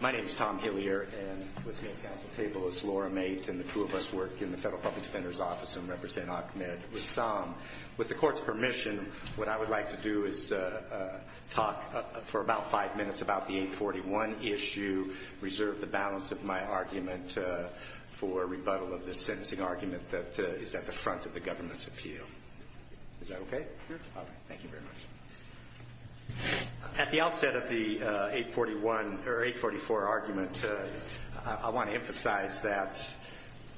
My name is Tom Hillier, and with me at Council Table is Laura Mate, and the two of us work in the Federal Public Defender's Office and represent Ahmed Ressam. With the Court's permission, what I would like to do is talk for about five minutes about the 841 issue, reserve the balance of my argument for rebuttal of the sentencing argument that is at the front of the government's appeal. Is that okay? Sure. Thank you very much. At the outset of the 841—or 844 argument, I want to emphasize that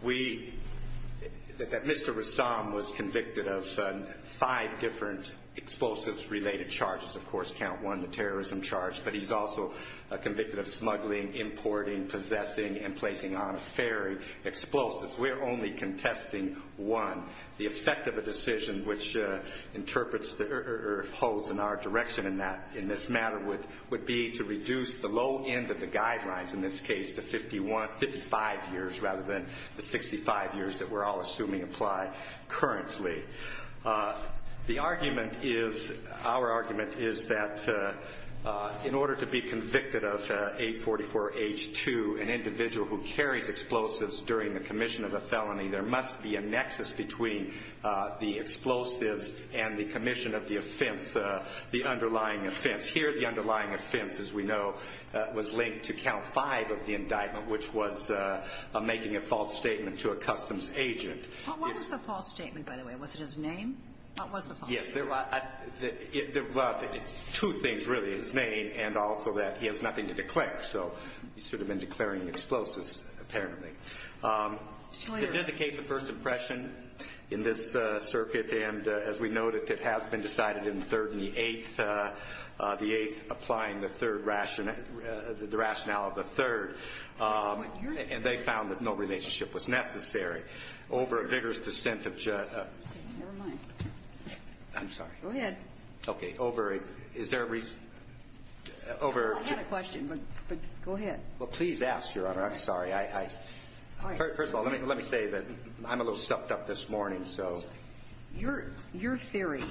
we—that Mr. Ressam was convicted of five different explosives-related charges. Of course, count one, the terrorism charge, but he's also convicted of smuggling, importing, possessing, and placing on a ferry explosives. We're only contesting one. The effect of a decision which interprets or holds in our direction in that—in this matter would be to reduce the low end of the guidelines, in this case, to 51—55 years rather than the 65 years that we're all assuming apply currently. The argument is—our argument is that in order to be convicted of 844H2, an individual who carries explosives during the commission of a felony, there must be a nexus between the explosives and the commission of the offense—the underlying offense. Here, the underlying offense, as we know, was linked to count five of the indictment, which was making a false statement to a customs agent. What was the false statement, by the way? Was it his name? What was the false statement? Yes. It's two things, really, his name and also that he has nothing to declare. So he should have been declaring explosives, apparently. Is this a case of first impression in this circuit? And as we noted, it has been decided in the third and the eighth, the eighth applying the third rationale—the rationale of the third. And they found that no relationship was necessary. Over a vigorous dissent of Judge— Never mind. I'm sorry. Go ahead. Okay. Over a—is there a reason? I had a question, but go ahead. Well, please ask, Your Honor. I'm sorry. First of all, let me say that I'm a little stuffed up this morning, so— Your theory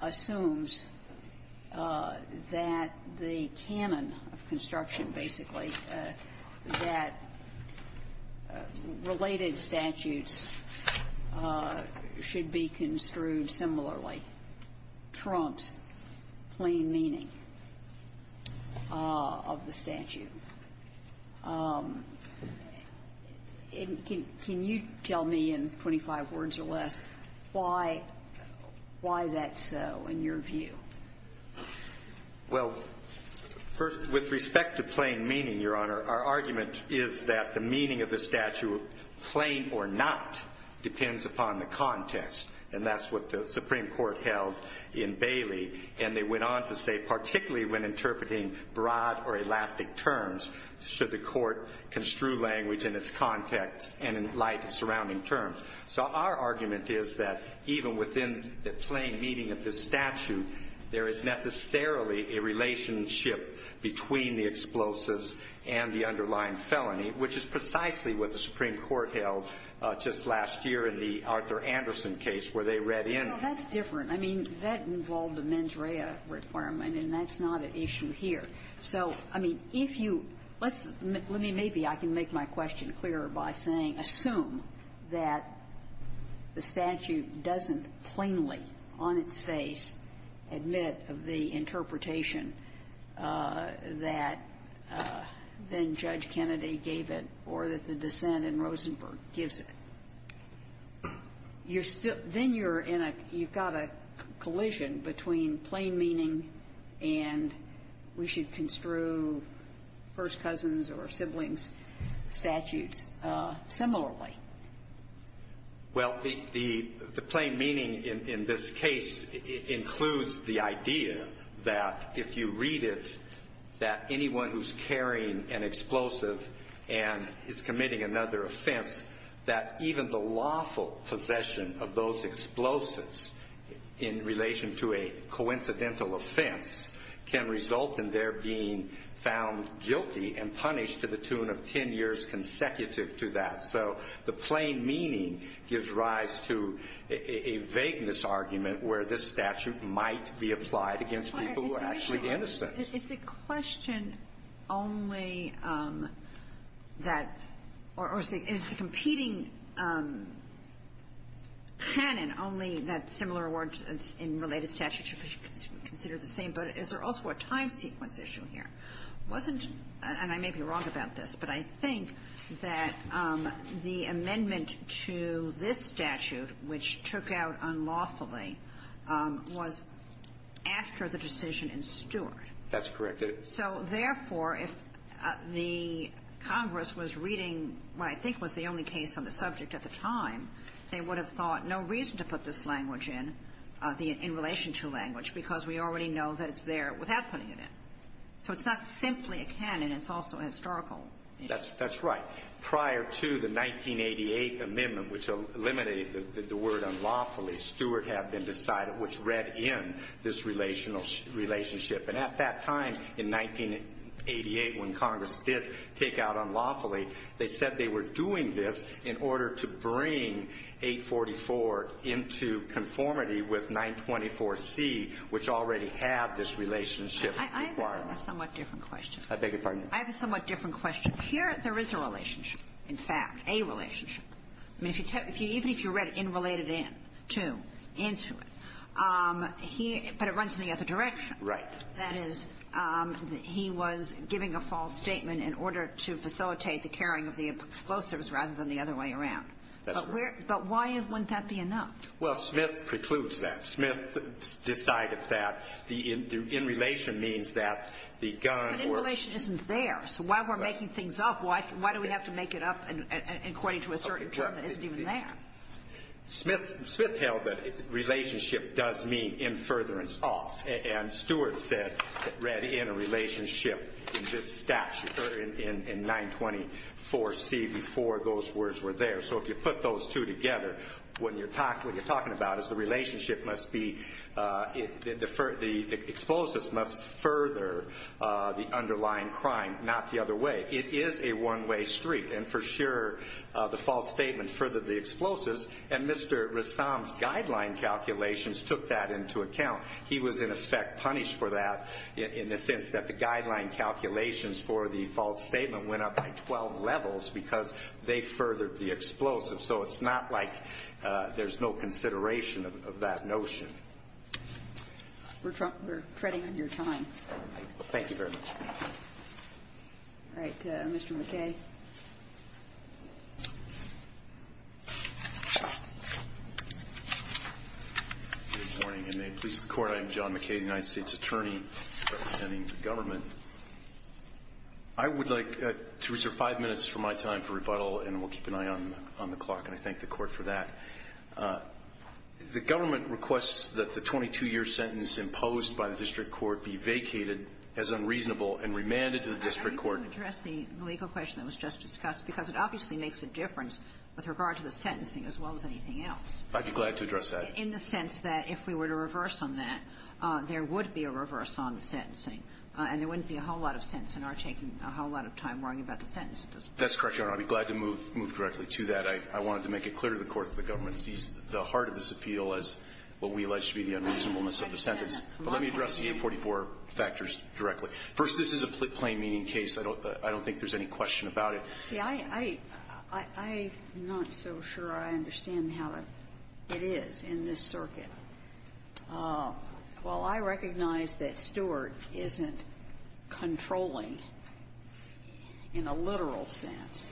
assumes that the canon of construction, basically, that related statutes should be construed similarly trumps plain meaning of the statute. Can you tell me in 25 words or less why that's so, in your view? Well, with respect to plain meaning, Your Honor, our argument is that the meaning of the statute, plain or not, depends upon the context. And that's what the Supreme Court held in Bailey. And they went on to say, particularly when interpreting broad or elastic terms, should the court construe language in its context and in light of surrounding terms. So our argument is that even within the plain meaning of the statute, there is necessarily a relationship between the explosives and the underlying felony, which is precisely what the Supreme Court held just last year in the Arthur Anderson case, where they read in— Well, that's different. I mean, that involved a mens rea requirement, and that's not an issue here. So, I mean, if you — let's — let me — maybe I can make my question clearer by saying, assume that the statute doesn't plainly, on its face, admit of the interpretation that then Judge Kennedy gave it or that the dissent in Rosenberg gives it. You're still — then you're in a — you've got a collision between plain meaning and we should construe first cousins or siblings statutes similarly. Well, the plain meaning in this case includes the idea that if you read it, that anyone who's carrying an explosive and is committing another offense, that even the lawful possession of those explosives in relation to a coincidental offense can result in their being found guilty and punished to the tune of 10 years consecutive to that. So the plain meaning gives rise to a vagueness argument where this statute might be applied against people who are actually innocent. So is the question only that — or is the — is the competing canon only that similar awards in related statutes should be considered the same, but is there also a time sequence issue here? Wasn't — and I may be wrong about this, but I think that the amendment to this statute, which took out unlawfully, was after the decision in Stewart. That's correct. So therefore, if the Congress was reading what I think was the only case on the subject at the time, they would have thought no reason to put this language in, the in-relation-to language, because we already know that it's there without putting it in. So it's not simply a canon. It's also historical. That's right. Prior to the 1988 amendment, which eliminated the word unlawfully, Stewart had been in this relationship. And at that time, in 1988, when Congress did take out unlawfully, they said they were doing this in order to bring 844 into conformity with 924C, which already had this relationship requirement. I have a somewhat different question. I beg your pardon? I have a somewhat different question. Here, there is a relationship, in fact, a relationship. Even if you read in-related-to, answer it, but it runs in the other direction. Right. That is, he was giving a false statement in order to facilitate the carrying of the explosives rather than the other way around. That's right. But why wouldn't that be enough? Well, Smith precludes that. Smith decided that the in-relation means that the gun were But in-relation isn't there. So while we're making things up, why do we have to make it up according to a certain term that isn't even there? Smith held that relationship does mean in furtherance off. And Stewart said, read in a relationship in this statute, or in 924C, before those words were there. So if you put those two together, what you're talking about is the relationship must be, the explosives must further the underlying crime, not the other way. It is a one-way street. And for sure, the false statement furthered the explosives. And Mr. Rassam's guideline calculations took that into account. He was, in effect, punished for that in the sense that the guideline calculations for the false statement went up by 12 levels because they furthered the explosives. So it's not like there's no consideration of that notion. We're treading on your time. Thank you very much. All right. Mr. McKay. Good morning, and may it please the Court. I am John McKay, the United States Attorney representing the government. I would like to reserve five minutes from my time for rebuttal, and we'll keep an eye on the clock. And I thank the Court for that. The government requests that the 22-year sentence imposed by the district court be vacated as unreasonable and remanded to the district court. I want to address the legal question that was just discussed because it obviously makes a difference with regard to the sentencing as well as anything else. I'd be glad to address that. In the sense that if we were to reverse on that, there would be a reverse on the sentencing, and there wouldn't be a whole lot of sense in our taking a whole lot of time worrying about the sentence. That's correct, Your Honor. I'd be glad to move directly to that. I wanted to make it clear to the Court that the government sees the heart of this appeal as what we allege to be the unreasonableness of the sentence. But let me address the 844 factors directly. First, this is a plain-meaning case. I don't think there's any question about it. See, I'm not so sure I understand how it is in this circuit. While I recognize that Stewart isn't controlling in a literal sense,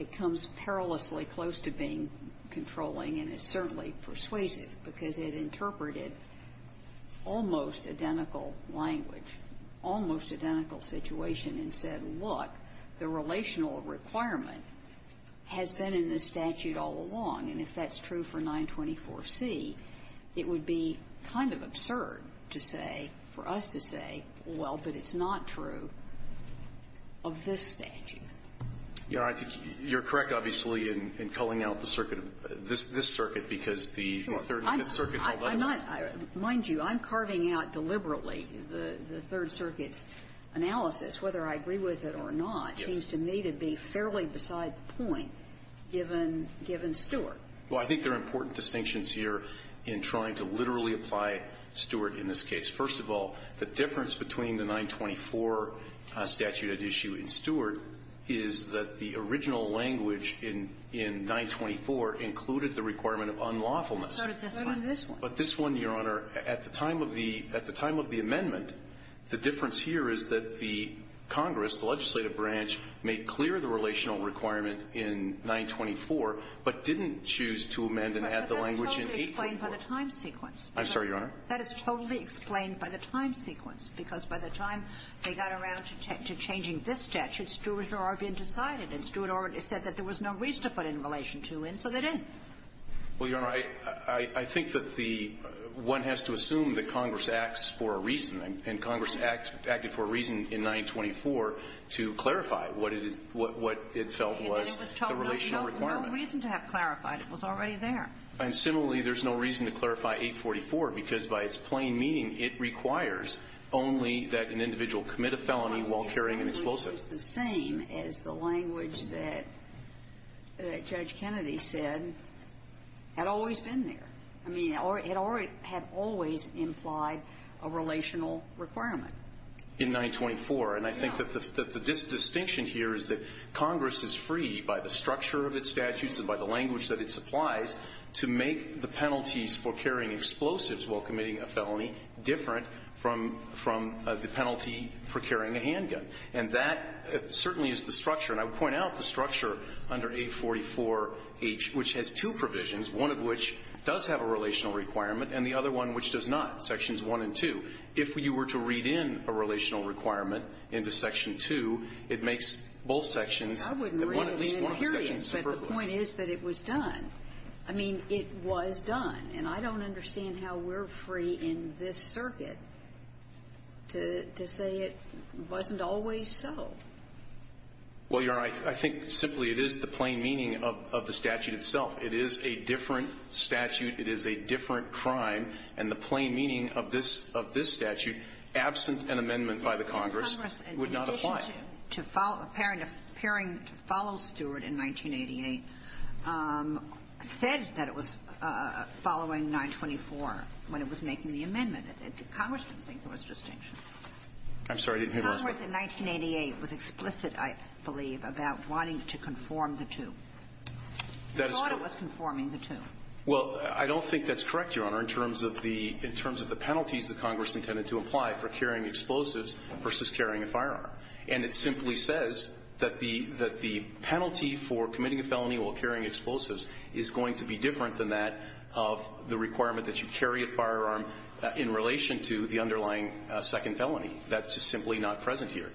it comes perilously close to being controlling, and it's certainly persuasive because it interpreted almost identical language, almost identical situation, and said, look, the relational requirement has been in this statute all along. And if that's true for 924C, it would be kind of absurd to say, for us to say, well, but it's not true of this statute. Your Honor, you're correct, obviously, in culling out the circuit, this circuit, because the Third and Fifth Circuit hold that in mind. Mind you, I'm carving out deliberately the Third Circuit's analysis. Whether I agree with it or not seems to me to be fairly beside the point, given Stewart. Well, I think there are important distinctions here in trying to literally apply Stewart in this case. First of all, the difference between the 924 statute at issue in Stewart is that the original language in 924 included the requirement of unlawfulness. So did this one. But this one, Your Honor, at the time of the amendment, the difference here is that the Congress, the legislative branch, made clear the relational requirement in 924, but didn't choose to amend and add the language in 844. I'm sorry, Your Honor. That is totally explained by the time sequence, because by the time they got around to changing this statute, Stewart had already been decided, and Stewart already said that there was no reason to put in relation to, and so they didn't. Well, Your Honor, I think that the one has to assume that Congress acts for a reason, and Congress acted for a reason in 924 to clarify what it felt was the relational requirement. No reason to have clarified. It was already there. And similarly, there's no reason to clarify 844, because by its plain meaning, it requires only that an individual commit a felony while carrying an explosive. It's the same as the language that Judge Kennedy said had always been there. I mean, it had always implied a relational requirement. In 924. And I think that the distinction here is that Congress is free by the structure of its statutes and by the language that it supplies to make the penalties for carrying a handgun, and that certainly is the structure. And I would point out the structure under 844H, which has two provisions, one of which does have a relational requirement, and the other one which does not, Sections 1 and 2. If you were to read in a relational requirement into Section 2, it makes both sections at least one of the sections superfluous. I wouldn't read it in periods, but the point is that it was done. I mean, it was done, and I don't understand how we're free in this circuit to say it wasn't always so. Well, Your Honor, I think simply it is the plain meaning of the statute itself. It is a different statute. It is a different crime. And the plain meaning of this statute, absent an amendment by the Congress, would not apply. Congress, in addition to appearing to follow Stewart in 1988, said that it was following 924 when it was making the amendment. Congress didn't think there was a distinction. I'm sorry. Congress in 1988 was explicit, I believe, about wanting to conform the two. They thought it was conforming the two. Well, I don't think that's correct, Your Honor, in terms of the penalties that Congress intended to apply for carrying explosives versus carrying a firearm. And it simply says that the penalty for committing a felony while carrying explosives is going to be different than that of the requirement that you carry a firearm in relation to the underlying second felony. That's just simply not present here.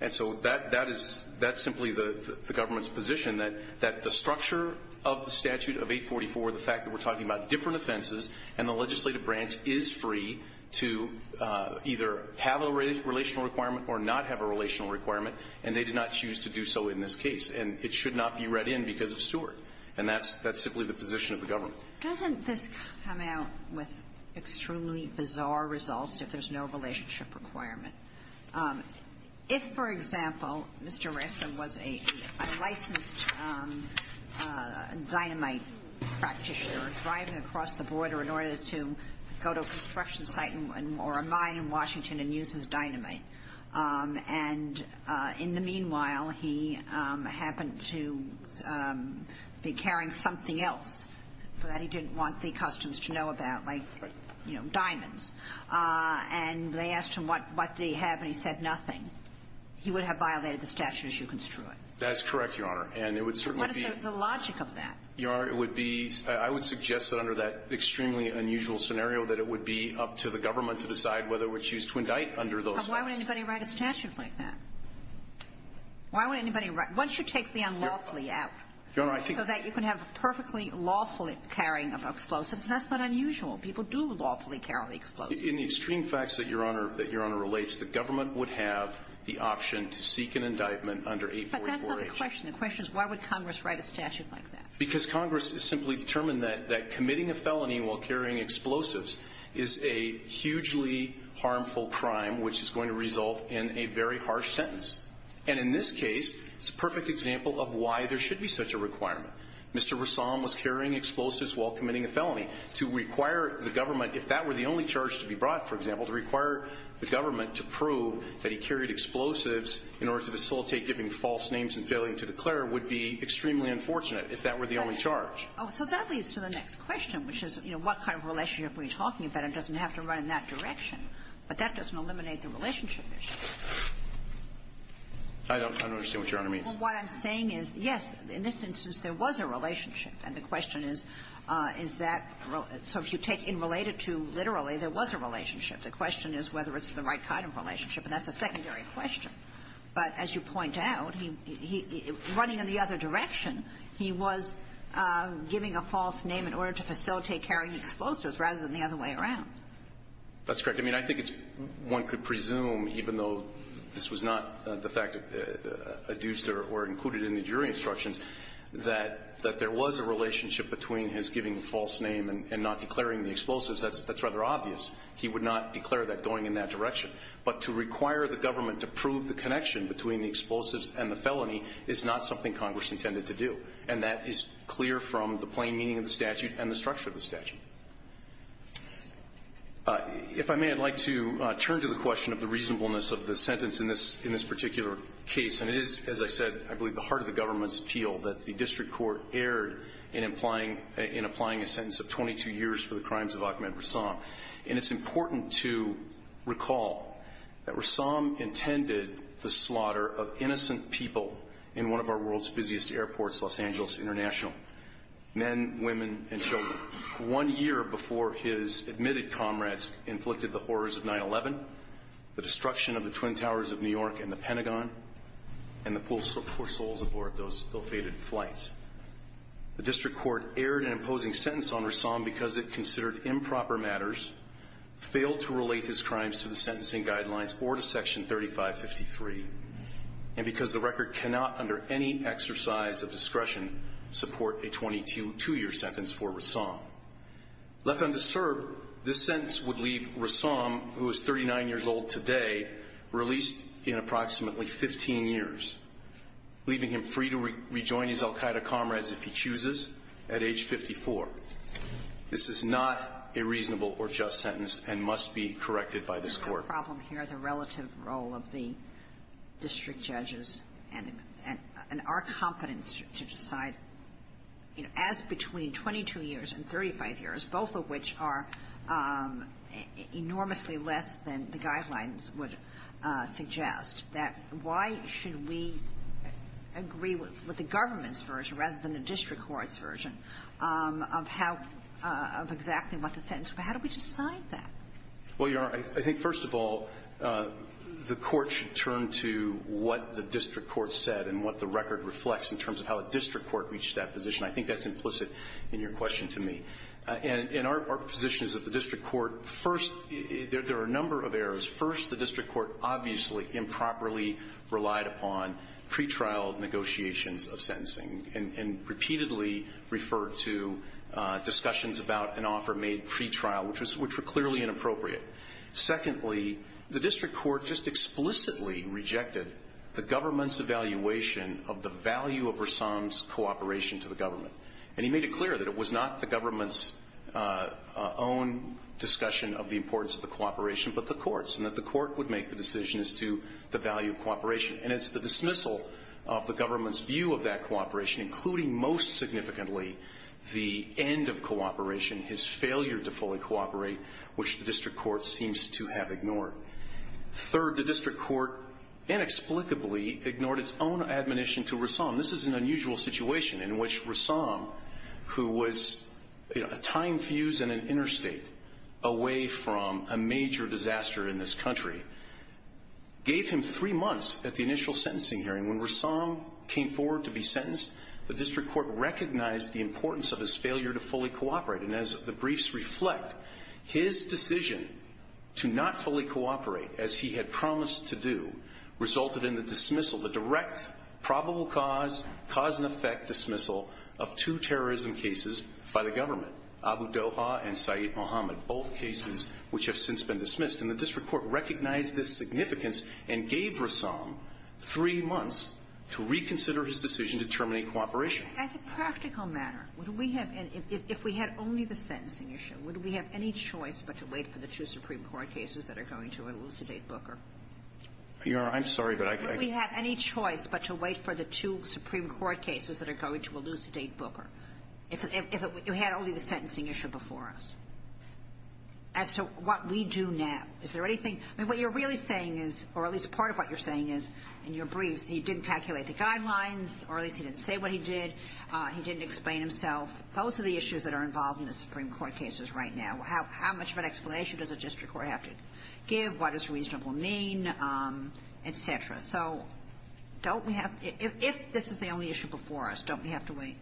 And so that is simply the government's position, that the structure of the statute of 844, the fact that we're talking about different offenses, and the legislative branch is free to either have a relational requirement or not have a relational requirement, and they did not choose to do so in this case. And it should not be read in because of Stewart. And that's simply the position of the government. Doesn't this come out with extremely bizarre results if there's no relationship requirement? If, for example, Mr. Ressa was a licensed dynamite practitioner driving across the border in order to go to a construction site or a mine in Washington and use his dynamite, and in the meanwhile, he happened to be carrying something else, that he didn't want the customs to know about, like, you know, diamonds, and they asked him what did he have, and he said nothing, he would have violated the statute as you construe it. That is correct, Your Honor. And it would certainly be the logic of that. Your Honor, it would be – I would suggest that under that extremely unusual scenario, that it would be up to the government to decide whether it would choose to indict under those facts. But why would anybody write a statute like that? Why would anybody write – once you take the unlawfully out, so that you can have a perfectly lawfully carrying of explosives, that's not unusual. People do lawfully carry explosives. In the extreme facts that Your Honor – that Your Honor relates, the government would have the option to seek an indictment under 844H. But that's not the question. The question is why would Congress write a statute like that? Because Congress has simply determined that committing a felony while carrying explosives is a hugely harmful crime which is going to result in a very harsh sentence. And in this case, it's a perfect example of why there should be such a requirement. Mr. Rassam was carrying explosives while committing a felony. To require the government, if that were the only charge to be brought, for example, to require the government to prove that he carried explosives in order to facilitate giving false names and failing to declare would be extremely unfortunate if that were the only charge. Oh, so that leads to the next question, which is, you know, what kind of relationship are you talking about? It doesn't have to run in that direction. But that doesn't eliminate the relationship issue. I don't understand what Your Honor means. Well, what I'm saying is, yes, in this instance, there was a relationship. And the question is, is that so if you take in related to literally, there was a relationship. The question is whether it's the right kind of relationship. And that's a secondary question. But as you point out, he running in the other direction, he was giving a false name in order to facilitate carrying explosives rather than the other way around. That's correct. I mean, I think it's one could presume, even though this was not the fact adduced or included in the jury instructions, that there was a relationship between his giving a false name and not declaring the explosives. That's rather obvious. He would not declare that going in that direction. But to require the government to prove the connection between the explosives and the felony is not something Congress intended to do. And that is clear from the plain meaning of the statute and the structure of the statute. If I may, I'd like to turn to the question of the reasonableness of the sentence in this particular case. And it is, as I said, I believe the heart of the government's appeal that the district court erred in applying a sentence of 22 years for the crimes of Ahmed Rassam. And it's important to recall that Rassam intended the slaughter of innocent people in one of our world's busiest airports, Los Angeles International. Men, women, and children. One year before his admitted comrades inflicted the horrors of 9-11, the destruction of the Twin Towers of New York and the Pentagon, and the poor souls aboard those ill-fated flights. The district court erred in imposing sentence on Rassam because it considered improper matters, failed to relate his crimes to the sentencing guidelines or to Section 3553, and because the record cannot, under any exercise of discretion, support a 22-year sentence for Rassam. Left undisturbed, this sentence would leave Rassam, who is 39 years old today, released in approximately 15 years, leaving him free to rejoin his al Qaeda comrades if he chooses at age 54. This is not a reasonable or just sentence and must be corrected by this Court. of the district judges and our competence to decide, you know, as between 22 years and 35 years, both of which are enormously less than the guidelines would suggest, that why should we agree with the government's version rather than the district court's version of how – of exactly what the sentence – how do we decide that? Well, Your Honor, I think, first of all, the Court should turn to what the district court said and what the record reflects in terms of how a district court reached that position. I think that's implicit in your question to me. And our position is that the district court first – there are a number of errors. First, the district court obviously improperly relied upon pretrial negotiations of sentencing and repeatedly referred to discussions about an offer made pretrial, which were clearly inappropriate. Secondly, the district court just explicitly rejected the government's evaluation of the value of Rassam's cooperation to the government. And he made it clear that it was not the government's own discussion of the importance of the cooperation, but the court's, and that the court would make the decision as to the value of cooperation. And it's the dismissal of the government's view of that cooperation, including most significantly the end of cooperation, his failure to fully cooperate, which the district court seems to have ignored. Third, the district court inexplicably ignored its own admonition to Rassam. This is an unusual situation in which Rassam, who was a time fuse in an interstate away from a major disaster in this country, gave him three months at the initial sentencing hearing. And when Rassam came forward to be sentenced, the district court recognized the importance of his failure to fully cooperate. And as the briefs reflect, his decision to not fully cooperate, as he had promised to do, resulted in the dismissal, the direct probable cause, cause and effect dismissal of two terrorism cases by the government, Abu Doha and Saeed Mohammed, both cases which have since been dismissed. And the district court recognized this significance and gave Rassam three months to reconsider his decision to terminate cooperation. As a practical matter, would we have, if we had only the sentencing issue, would we have any choice but to wait for the two Supreme Court cases that are going to elucidate Booker? Your Honor, I'm sorry, but I can't. Would we have any choice but to wait for the two Supreme Court cases that are going to elucidate Booker, if it had only the sentencing issue before us? As to what we do now, is there anything – I mean, what you're really saying is – or at least part of what you're saying is, in your briefs, he didn't calculate the guidelines or at least he didn't say what he did. He didn't explain himself. Those are the issues that are involved in the Supreme Court cases right now. How much of an explanation does the district court have to give? What does reasonable mean, et cetera? So don't we have – if this is the only issue before us, don't we have to wait?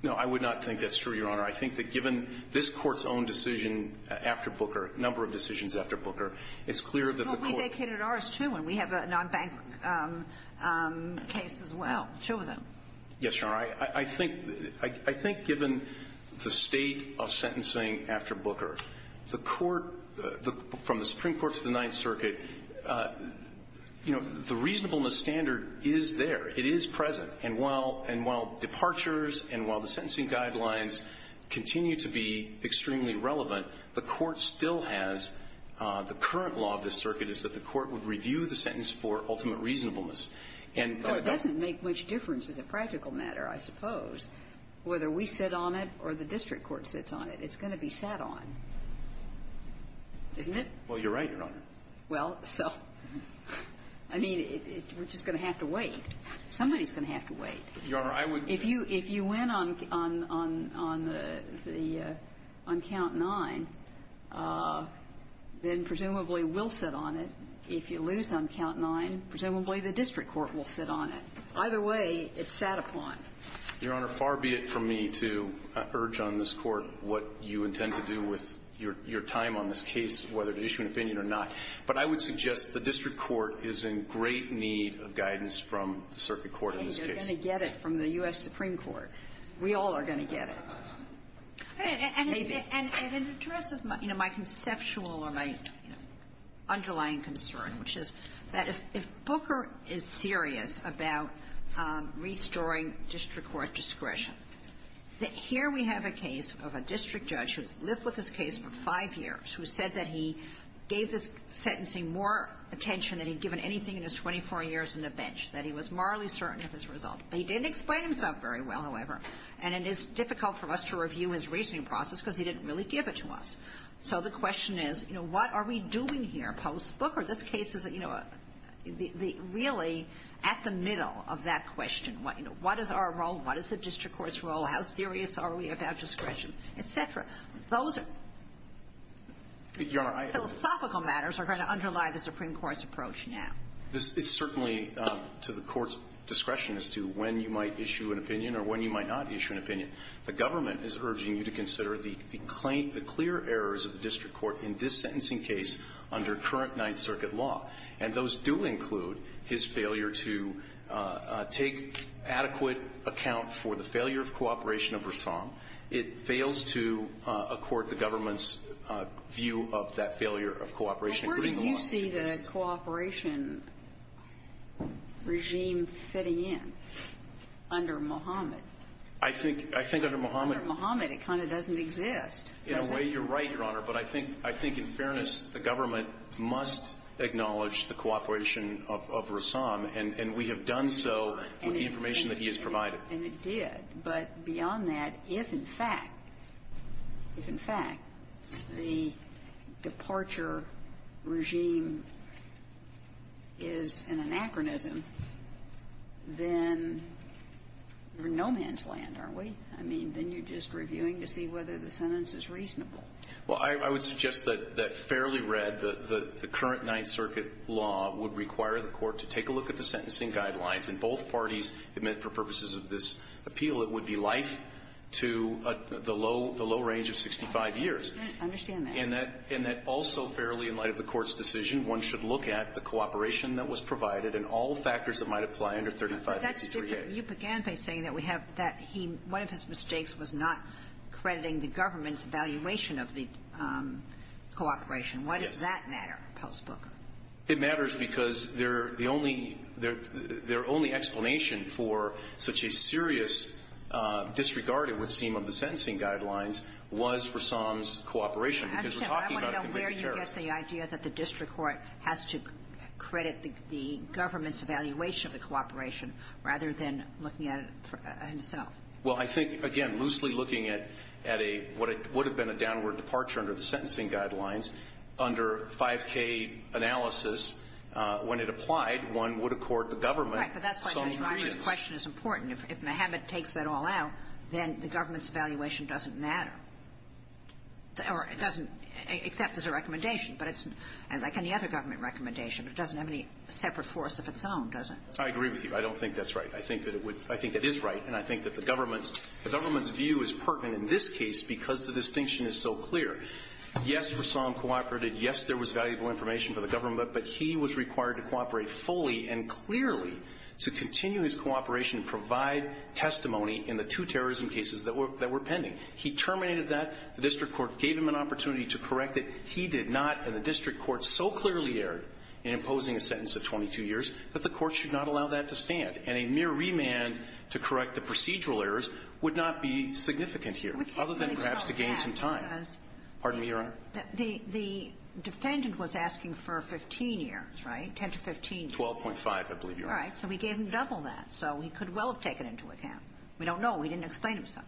No, I would not think that's true, Your Honor. I think that given this Court's own decision after Booker, number of decisions after Booker, it's clear that the Court – But we vacated ours, too, and we have a nonbank case as well, two of them. Yes, Your Honor. I think – I think given the state of sentencing after Booker, the Court – from the Supreme Court to the Ninth Circuit, you know, the reasonableness standard is there. It is present. And while – and while departures and while the sentencing guidelines continue to be extremely relevant, the Court still has – the current law of this circuit is that the Court would review the sentence for ultimate reasonableness. And that doesn't make much difference as a practical matter, I suppose, whether we sit on it or the district court sits on it. It's going to be sat on, isn't it? Well, you're right, Your Honor. Somebody's going to have to wait. Your Honor, I would – If you – if you win on the – on count nine, then presumably we'll sit on it. If you lose on count nine, presumably the district court will sit on it. Either way, it's sat upon. Your Honor, far be it from me to urge on this Court what you intend to do with your time on this case, whether to issue an opinion or not. But I would suggest the district court is in great need of guidance from the circuit court in this case. I mean, they're going to get it from the U.S. Supreme Court. We all are going to get it. Maybe. And it addresses my – you know, my conceptual or my, you know, underlying concern, which is that if Booker is serious about restoring district court discretion, that here we have a case of a district judge who has lived with this case for five years, who said that he gave this sentencing more attention than he'd given anything in his 24 years on the bench, that he was morally certain of his result. But he didn't explain himself very well, however. And it is difficult for us to review his reasoning process because he didn't really give it to us. So the question is, you know, what are we doing here post-Booker? This case is, you know, really at the middle of that question. You know, what is our role? What is the district court's role? How serious are we about discretion? Et cetera. Those philosophical matters are going to underlie the Supreme Court's approach now. This is certainly to the Court's discretion as to when you might issue an opinion or when you might not issue an opinion. The government is urging you to consider the clear errors of the district court in this sentencing case under current Ninth Circuit law. And those do include his failure to take adequate account for the failure of cooperation of Versailles. It fails to accord the government's view of that failure of cooperation, including the last two cases. Well, where do you see the cooperation regime fitting in under Mohammed? I think under Mohammed. Under Mohammed, it kind of doesn't exist, does it? In a way, you're right, Your Honor. But I think in fairness, the government must acknowledge the cooperation of Rassam. And we have done so with the information that he has provided. And it did. But beyond that, if, in fact, if, in fact, the departure regime is an anachronism, then we're no man's land, aren't we? I mean, then you're just reviewing to see whether the sentence is reasonable. Well, I would suggest that fairly read, the current Ninth Circuit law would require the Court to take a look at the sentencing guidelines. In both parties, it meant for purposes of this appeal, it would be life to the low range of 65 years. I understand that. And that also fairly, in light of the Court's decision, one should look at the cooperation that was provided and all factors that might apply under 3563A. But that's different. You began by saying that we have that he one of his mistakes was not crediting the government's evaluation of the cooperation. Yes. Why does that matter, Post Booker? It matters because they're the only – their only explanation for such a serious disregard at what seemed of the sentencing guidelines was for Somme's cooperation. Because we're talking about a convicted terrorist. I want to know where you get the idea that the district court has to credit the government's evaluation of the cooperation rather than looking at it himself. Well, I think, again, loosely looking at a – what would have been a downward departure under the sentencing guidelines, under 5K analysis, when it applied, one would accord the government Somme's credence. Right. But that's why, Judge Reiner, the question is important. If Mehabit takes that all out, then the government's evaluation doesn't matter. Or it doesn't, except there's a recommendation. But it's – like any other government recommendation, it doesn't have any separate force of its own, does it? I agree with you. I don't think that's right. I think that it would – I think it is right. And I think that the government's – the government's view is pertinent in this case because the distinction is so clear. Yes, for Somme cooperated. Yes, there was valuable information for the government. But he was required to cooperate fully and clearly to continue his cooperation and provide testimony in the two terrorism cases that were pending. He terminated that. The district court gave him an opportunity to correct it. He did not. And the district court so clearly erred in imposing a sentence of 22 years that the court should not allow that to stand. And a mere remand to correct the procedural errors would not be significant here, other than perhaps to gain some time. Pardon me, Your Honor. The defendant was asking for 15 years, right? Ten to 15 years. 12.5, I believe, Your Honor. All right. So we gave him double that. So he could well have taken into account. We don't know. We didn't explain it to him.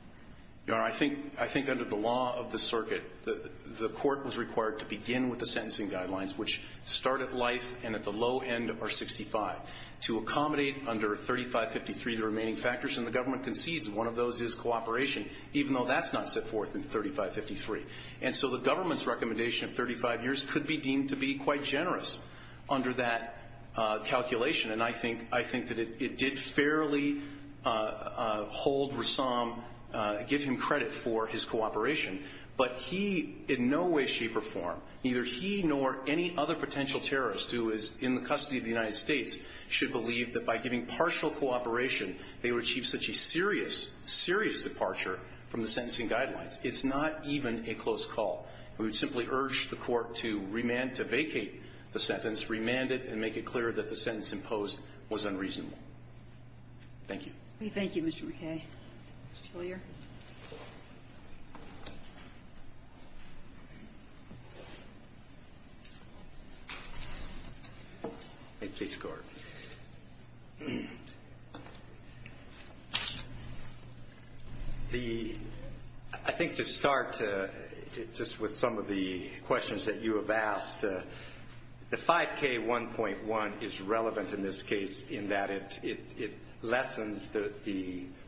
Your Honor, I think – I think under the law of the circuit, the court was required to begin with the sentencing guidelines, which start at life and at the low end are 65, to accommodate under 3553 the remaining factors. And the government concedes one of those is cooperation. Even though that's not set forth in 3553. And so the government's recommendation of 35 years could be deemed to be quite generous under that calculation. And I think – I think that it did fairly hold Rassam – give him credit for his cooperation. But he in no way, shape, or form – neither he nor any other potential terrorist who is in the custody of the United States should believe that by giving partial cooperation they would achieve such a serious, serious departure from the sentencing guidelines. It's not even a close call. And we would simply urge the Court to remand – to vacate the sentence, remand it, and make it clear that the sentence imposed was unreasonable. Thank you. We thank you, Mr. McKay. Mr. Tillyer. Thank you, Mr. Court. The – I think to start just with some of the questions that you have asked, the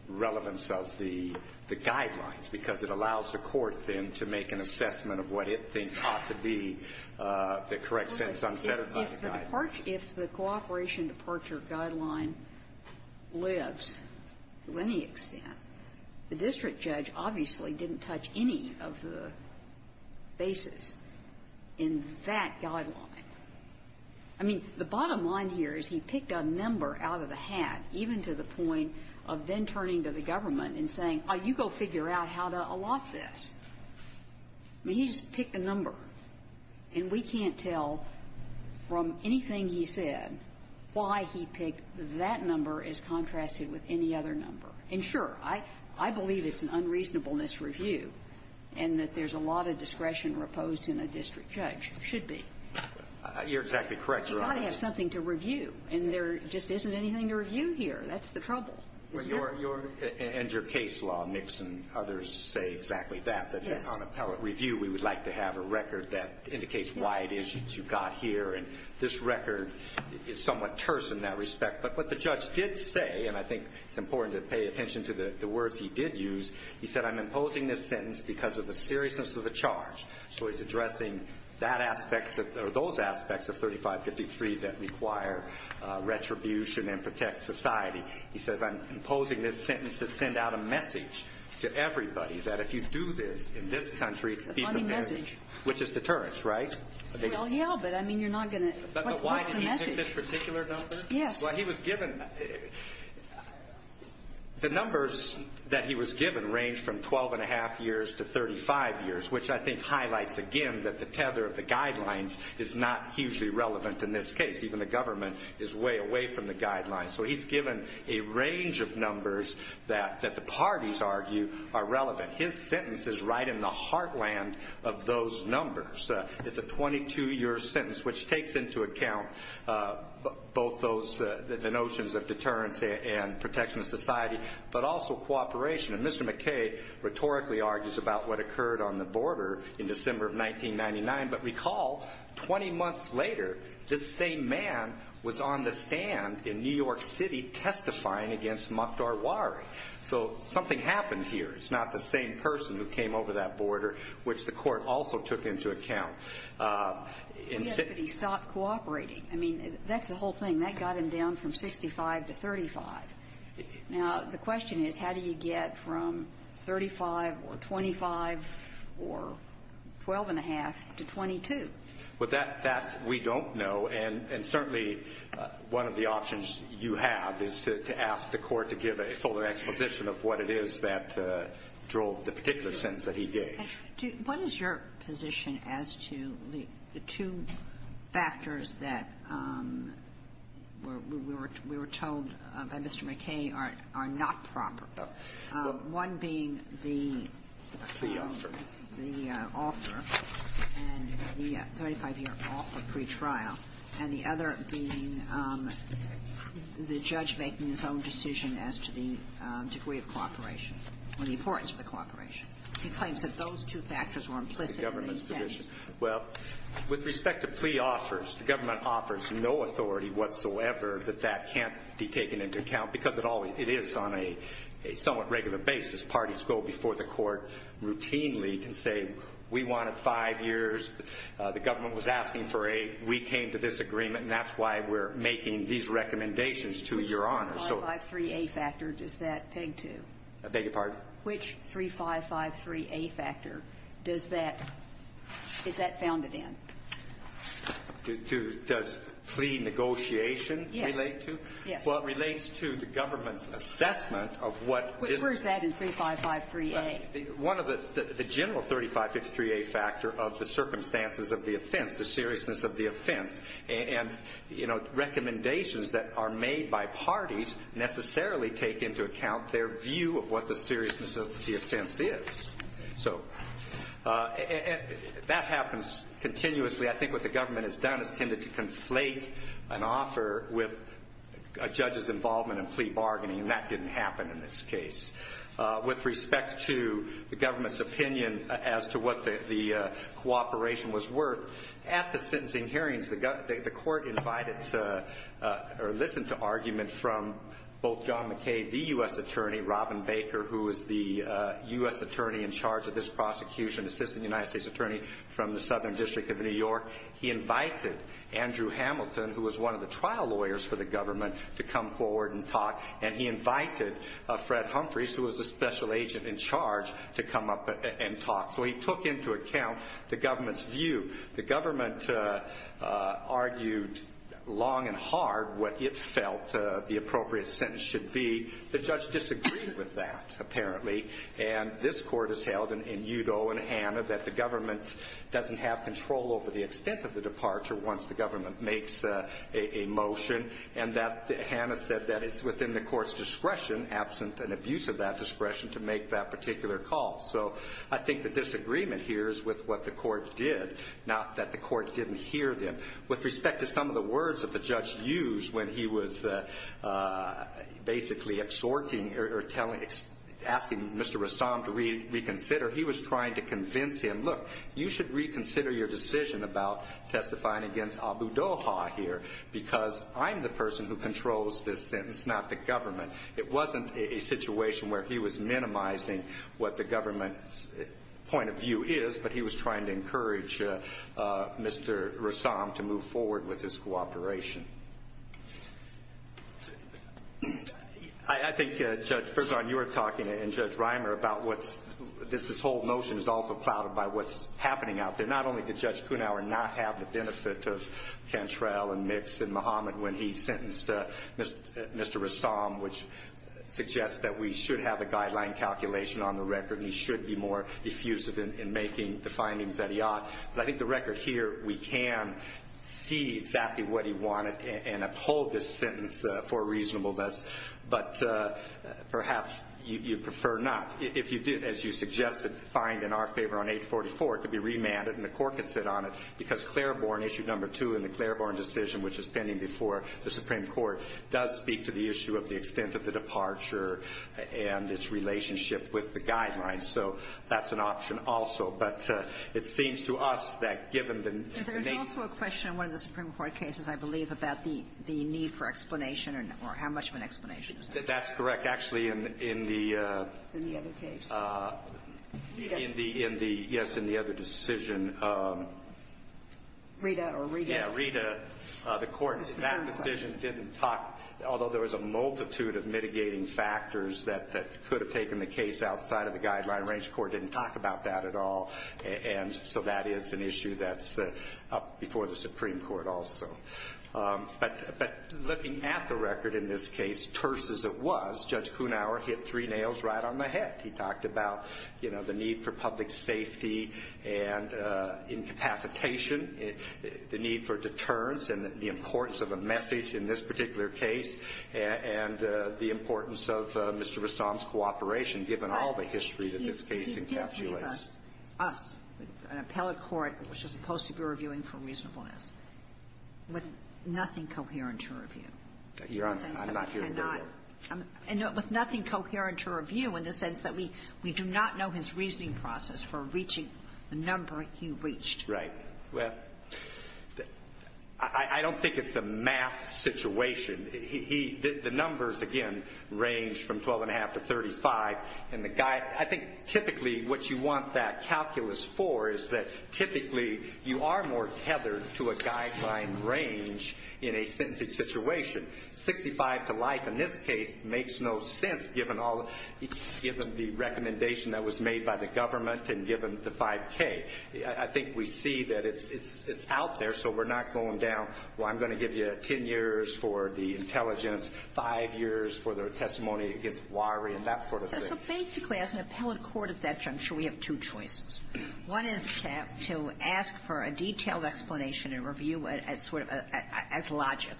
relevance of the guidelines, because it allows the Court, then, to make an assessment of what it thinks ought to be the correct sentence unfettered by the guidelines. If the cooperation departure guideline lives to any extent, the district judge obviously didn't touch any of the bases in that guideline. I mean, the bottom line here is he picked a number out of the hat, even to the point of then turning to the government and saying, oh, you go figure out how to allot this. I mean, he just picked a number. And we can't tell from anything he said why he picked that number as contrasted with any other number. And, sure, I believe it's an unreasonableness review and that there's a lot of discretion reposed in a district judge. It should be. You're exactly correct, Your Honor. But you've got to have something to review, and there just isn't anything to review here. That's the trouble. Your – and your case law mix and others say exactly that. Yes. That on appellate review, we would like to have a record that indicates why it is you got here. And this record is somewhat terse in that respect. But what the judge did say, and I think it's important to pay attention to the words he did use, he said, I'm imposing this sentence because of the seriousness of the charge. So he's addressing that aspect or those aspects of 3553 that require retribution and protect society. He says, I'm imposing this sentence to send out a message to everybody that if you do this in this country, it will be prepared. A funny message. Which is deterrence, right? Well, yeah, but I mean, you're not going to – what's the message? But why did he pick this particular number? Yes. Well, he was given – the numbers that he was given range from 12 and a half years to 35 years, which I think highlights, again, that the tether of the guidelines is not hugely relevant in this case. Even the government is way away from the guidelines. So he's given a range of numbers that the parties argue are relevant. His sentence is right in the heartland of those numbers. It's a 22-year sentence, which takes into account both those – the notions of deterrence and protection of society, but also cooperation. And Mr. McKay rhetorically argues about what occurred on the border in December of 1999. But recall, 20 months later, this same man was on the stand in New York City testifying against Mokhtar Wari. So something happened here. It's not the same person who came over that border, which the Court also took into account. Yes, but he stopped cooperating. I mean, that's the whole thing. That got him down from 65 to 35. Now, the question is, how do you get from 35 or 25 or 12-and-a-half to 22? Well, that we don't know. And certainly one of the options you have is to ask the Court to give a fuller exposition of what it is that drove the particular sentence that he gave. What is your position as to the two factors that we were told by Mr. McKay are not proper, one being the author and the 35-year offer pretrial, and the other being the judge making his own decision as to the degree of cooperation or the importance of the cooperation? He claims that those two factors were implicit in the sentence. The government's position. Well, with respect to plea offers, the government offers no authority whatsoever that that can't be taken into account, because it is on a somewhat regular basis. Parties go before the Court routinely and say, we wanted five years. The government was asking for eight. We came to this agreement, and that's why we're making these recommendations to Your Honor. Which 353A factor does that peg to? I beg your pardon? Which 3553A factor does that – is that founded in? Does plea negotiation relate to? Yes. Well, it relates to the government's assessment of what is – Where is that in 3553A? One of the – the general 3553A factor of the circumstances of the offense, the seriousness of the offense. And, you know, recommendations that are made by parties necessarily take into account their view of what the seriousness of the offense is. So that happens continuously. I think what the government has done is tended to conflate an offer with a judge's involvement in plea bargaining, and that didn't happen in this case. With respect to the government's opinion as to what the cooperation was worth, at the sentencing hearings, the court invited or listened to argument from both Robert McKay, the U.S. attorney, Robin Baker, who is the U.S. attorney in charge of this prosecution, assistant United States attorney from the Southern District of New York. He invited Andrew Hamilton, who was one of the trial lawyers for the government, to come forward and talk. And he invited Fred Humphreys, who was a special agent in charge, to come up and talk. So he took into account the government's view. The government argued long and hard what it felt the appropriate sentence should be. The judge disagreed with that, apparently. And this court has held, and you, though, and Hannah, that the government doesn't have control over the extent of the departure once the government makes a motion, and that Hannah said that it's within the court's discretion, absent an abuse of that discretion, to make that particular call. So I think the disagreement here is with what the court did, not that the court didn't hear them. With respect to some of the words that the judge used when he was basically asking Mr. Rassam to reconsider, he was trying to convince him, look, you should reconsider your decision about testifying against Abu Doha here, because I'm the person who controls this sentence, not the government. It wasn't a situation where he was minimizing what the government's point of view is, but he was trying to encourage Mr. Rassam to move forward with his cooperation. I think, Judge, first of all, you were talking, and Judge Reimer, about what's this whole motion is also clouded by what's happening out there. Not only did Judge Kunawer not have the benefit of Cantrell and Mix and Muhammad when he sentenced Mr. Rassam, which suggests that we should have a guideline calculation on the record, and he should be more effusive in making the findings that he ought. But I think the record here, we can see exactly what he wanted and uphold this sentence for reasonableness, but perhaps you prefer not. If you did, as you suggested, find in our favor on 844, it could be remanded, and the court could sit on it, because Claiborne, issue number 2 in the Claiborne decision, which is pending before the Supreme Court, does speak to the issue of the extent of the departure and its relationship with the guidelines. So that's an option also. But it seems to us that given the need to explain. Is there also a question in one of the Supreme Court cases, I believe, about the need for explanation or how much of an explanation? That's correct. Actually, in the other case, yes, in the other decision. Rita or Rita? Yes, Rita. The court in that decision didn't talk, although there was a multitude of mitigating factors that could have taken the case outside of the guideline range. The court didn't talk about that at all. And so that is an issue that's up before the Supreme Court also. But looking at the record in this case, terse as it was, Judge Kuhnauer hit three nails right on the head. He talked about, you know, the need for public safety and incapacitation, the need for deterrence, and the importance of a message in this particular case, and the importance of Mr. Ressam's cooperation, given all the history that this case encapsulates. He's giving us, us, an appellate court which is supposed to be reviewing for reasonableness with nothing coherent to review. Your Honor, I'm not here to review. And with nothing coherent to review in the sense that we do not know his reasoning process for reaching the number he reached. Well, I don't think it's a math situation. The numbers, again, range from 12.5 to 35. And I think typically what you want that calculus for is that typically you are more tethered to a guideline range in a sentencing situation. 65 to life in this case makes no sense, given the recommendation that was made by the government and given the 5K. I think we see that it's out there, so we're not going down, well, I'm going to give you 10 years for the intelligence, 5 years for the testimony against Warry, and that sort of thing. So basically, as an appellate court at that juncture, we have two choices. One is to ask for a detailed explanation and review as sort of as logic.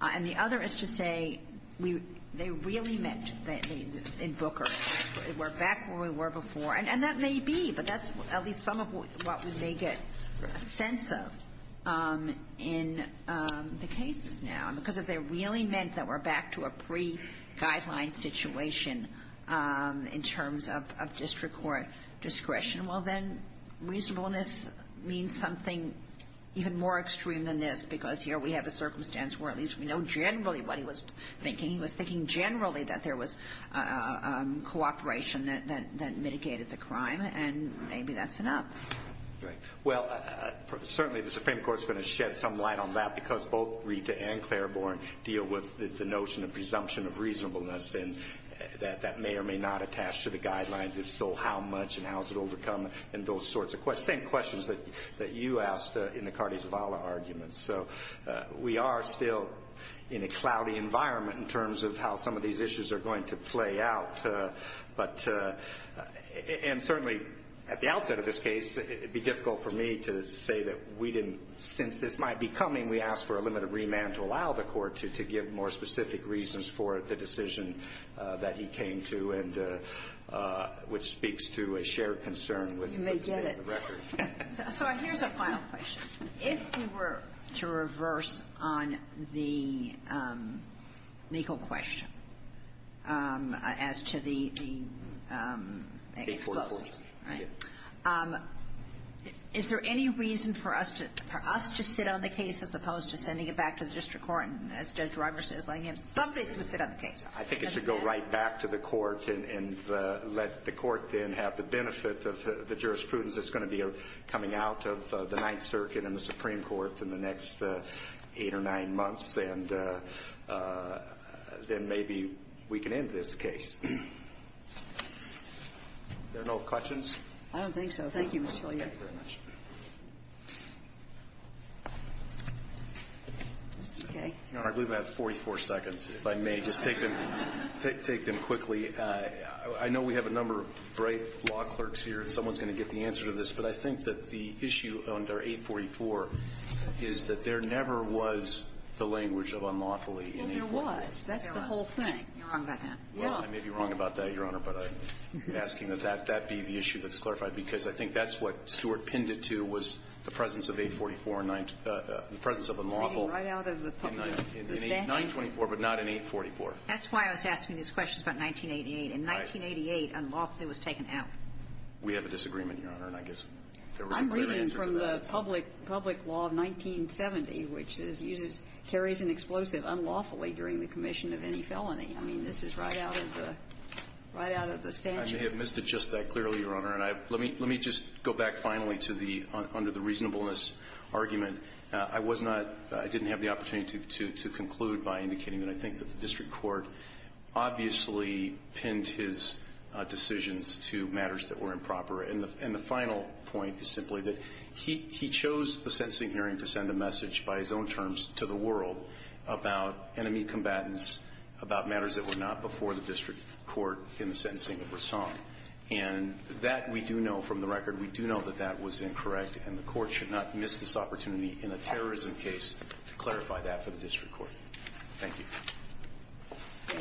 And the other is to say they really meant that in Booker. We're back where we were before. And that may be, but that's at least some of what we may get a sense of in the cases now, because if they really meant that we're back to a pre-guideline situation in terms of district court discretion, well, then reasonableness means something even more extreme than this, because here we have a circumstance where at least we know generally what he was thinking. He was thinking generally that there was cooperation that mitigated the crime, and maybe that's enough. Right. Well, certainly the Supreme Court's going to shed some light on that, because both Rita and Claiborne deal with the notion of presumption of reasonableness, and that that may or may not attach to the guidelines. If so, how much and how is it overcome and those sorts of questions, same questions that you asked in the Cardi Zavala arguments. So we are still in a cloudy environment in terms of how some of these issues are going to play out. And certainly at the outset of this case, it would be difficult for me to say that since this might be coming, we asked for a limited remand to allow the court to give more specific reasons for the decision that he came to, which speaks to a shared concern with the state of the record. You may get it. So here's a final question. If you were to reverse on the legal question as to the explosives, right, is there any reason for us to sit on the case as opposed to sending it back to the district court and as Judge Roberts is letting him, somebody's going to sit on the case? I think it should go right back to the court and let the court then have the benefit of the jurisprudence that's going to be coming out of the Ninth Circuit and the Supreme Court in the next eight or nine months. And then maybe we can end this case. Are there no questions? I don't think so. Thank you, Mr. Scalia. Thank you very much. Okay. Your Honor, I believe I have 44 seconds, if I may. Just take them quickly. I know we have a number of great law clerks here, and someone's going to get the answer to this, but I think that the issue under 844 is that there never was the language of unlawfully in 844. Well, there was. That's the whole thing. You're wrong about that. Well, I may be wrong about that, Your Honor, but I'm asking that that be the issue that's clarified, because I think that's what Stewart pinned it to was the presence of 844 and the presence of unlawful. Right out of the statute. In 924, but not in 844. That's why I was asking these questions about 1988. In 1988, unlawfully was taken out. We have a disagreement, Your Honor, and I guess there wasn't a clear answer to that. I'm reading from the public law of 1970, which carries an explosive unlawfully during the commission of any felony. I mean, this is right out of the statute. I may have missed it just that clearly, Your Honor, and let me just go back finally to the under the reasonableness argument. I was not – I didn't have the opportunity to conclude by indicating that I think that the district court obviously pinned his decisions to matters that were improper. And the final point is simply that he chose the sentencing hearing to send a message by his own terms to the world about enemy combatants, about matters that were not before the district court in the sentencing of Rassong. And that we do know from the record. We do know that that was incorrect, and the court should not miss this opportunity in a terrorism case to clarify that for the district court. Thank you.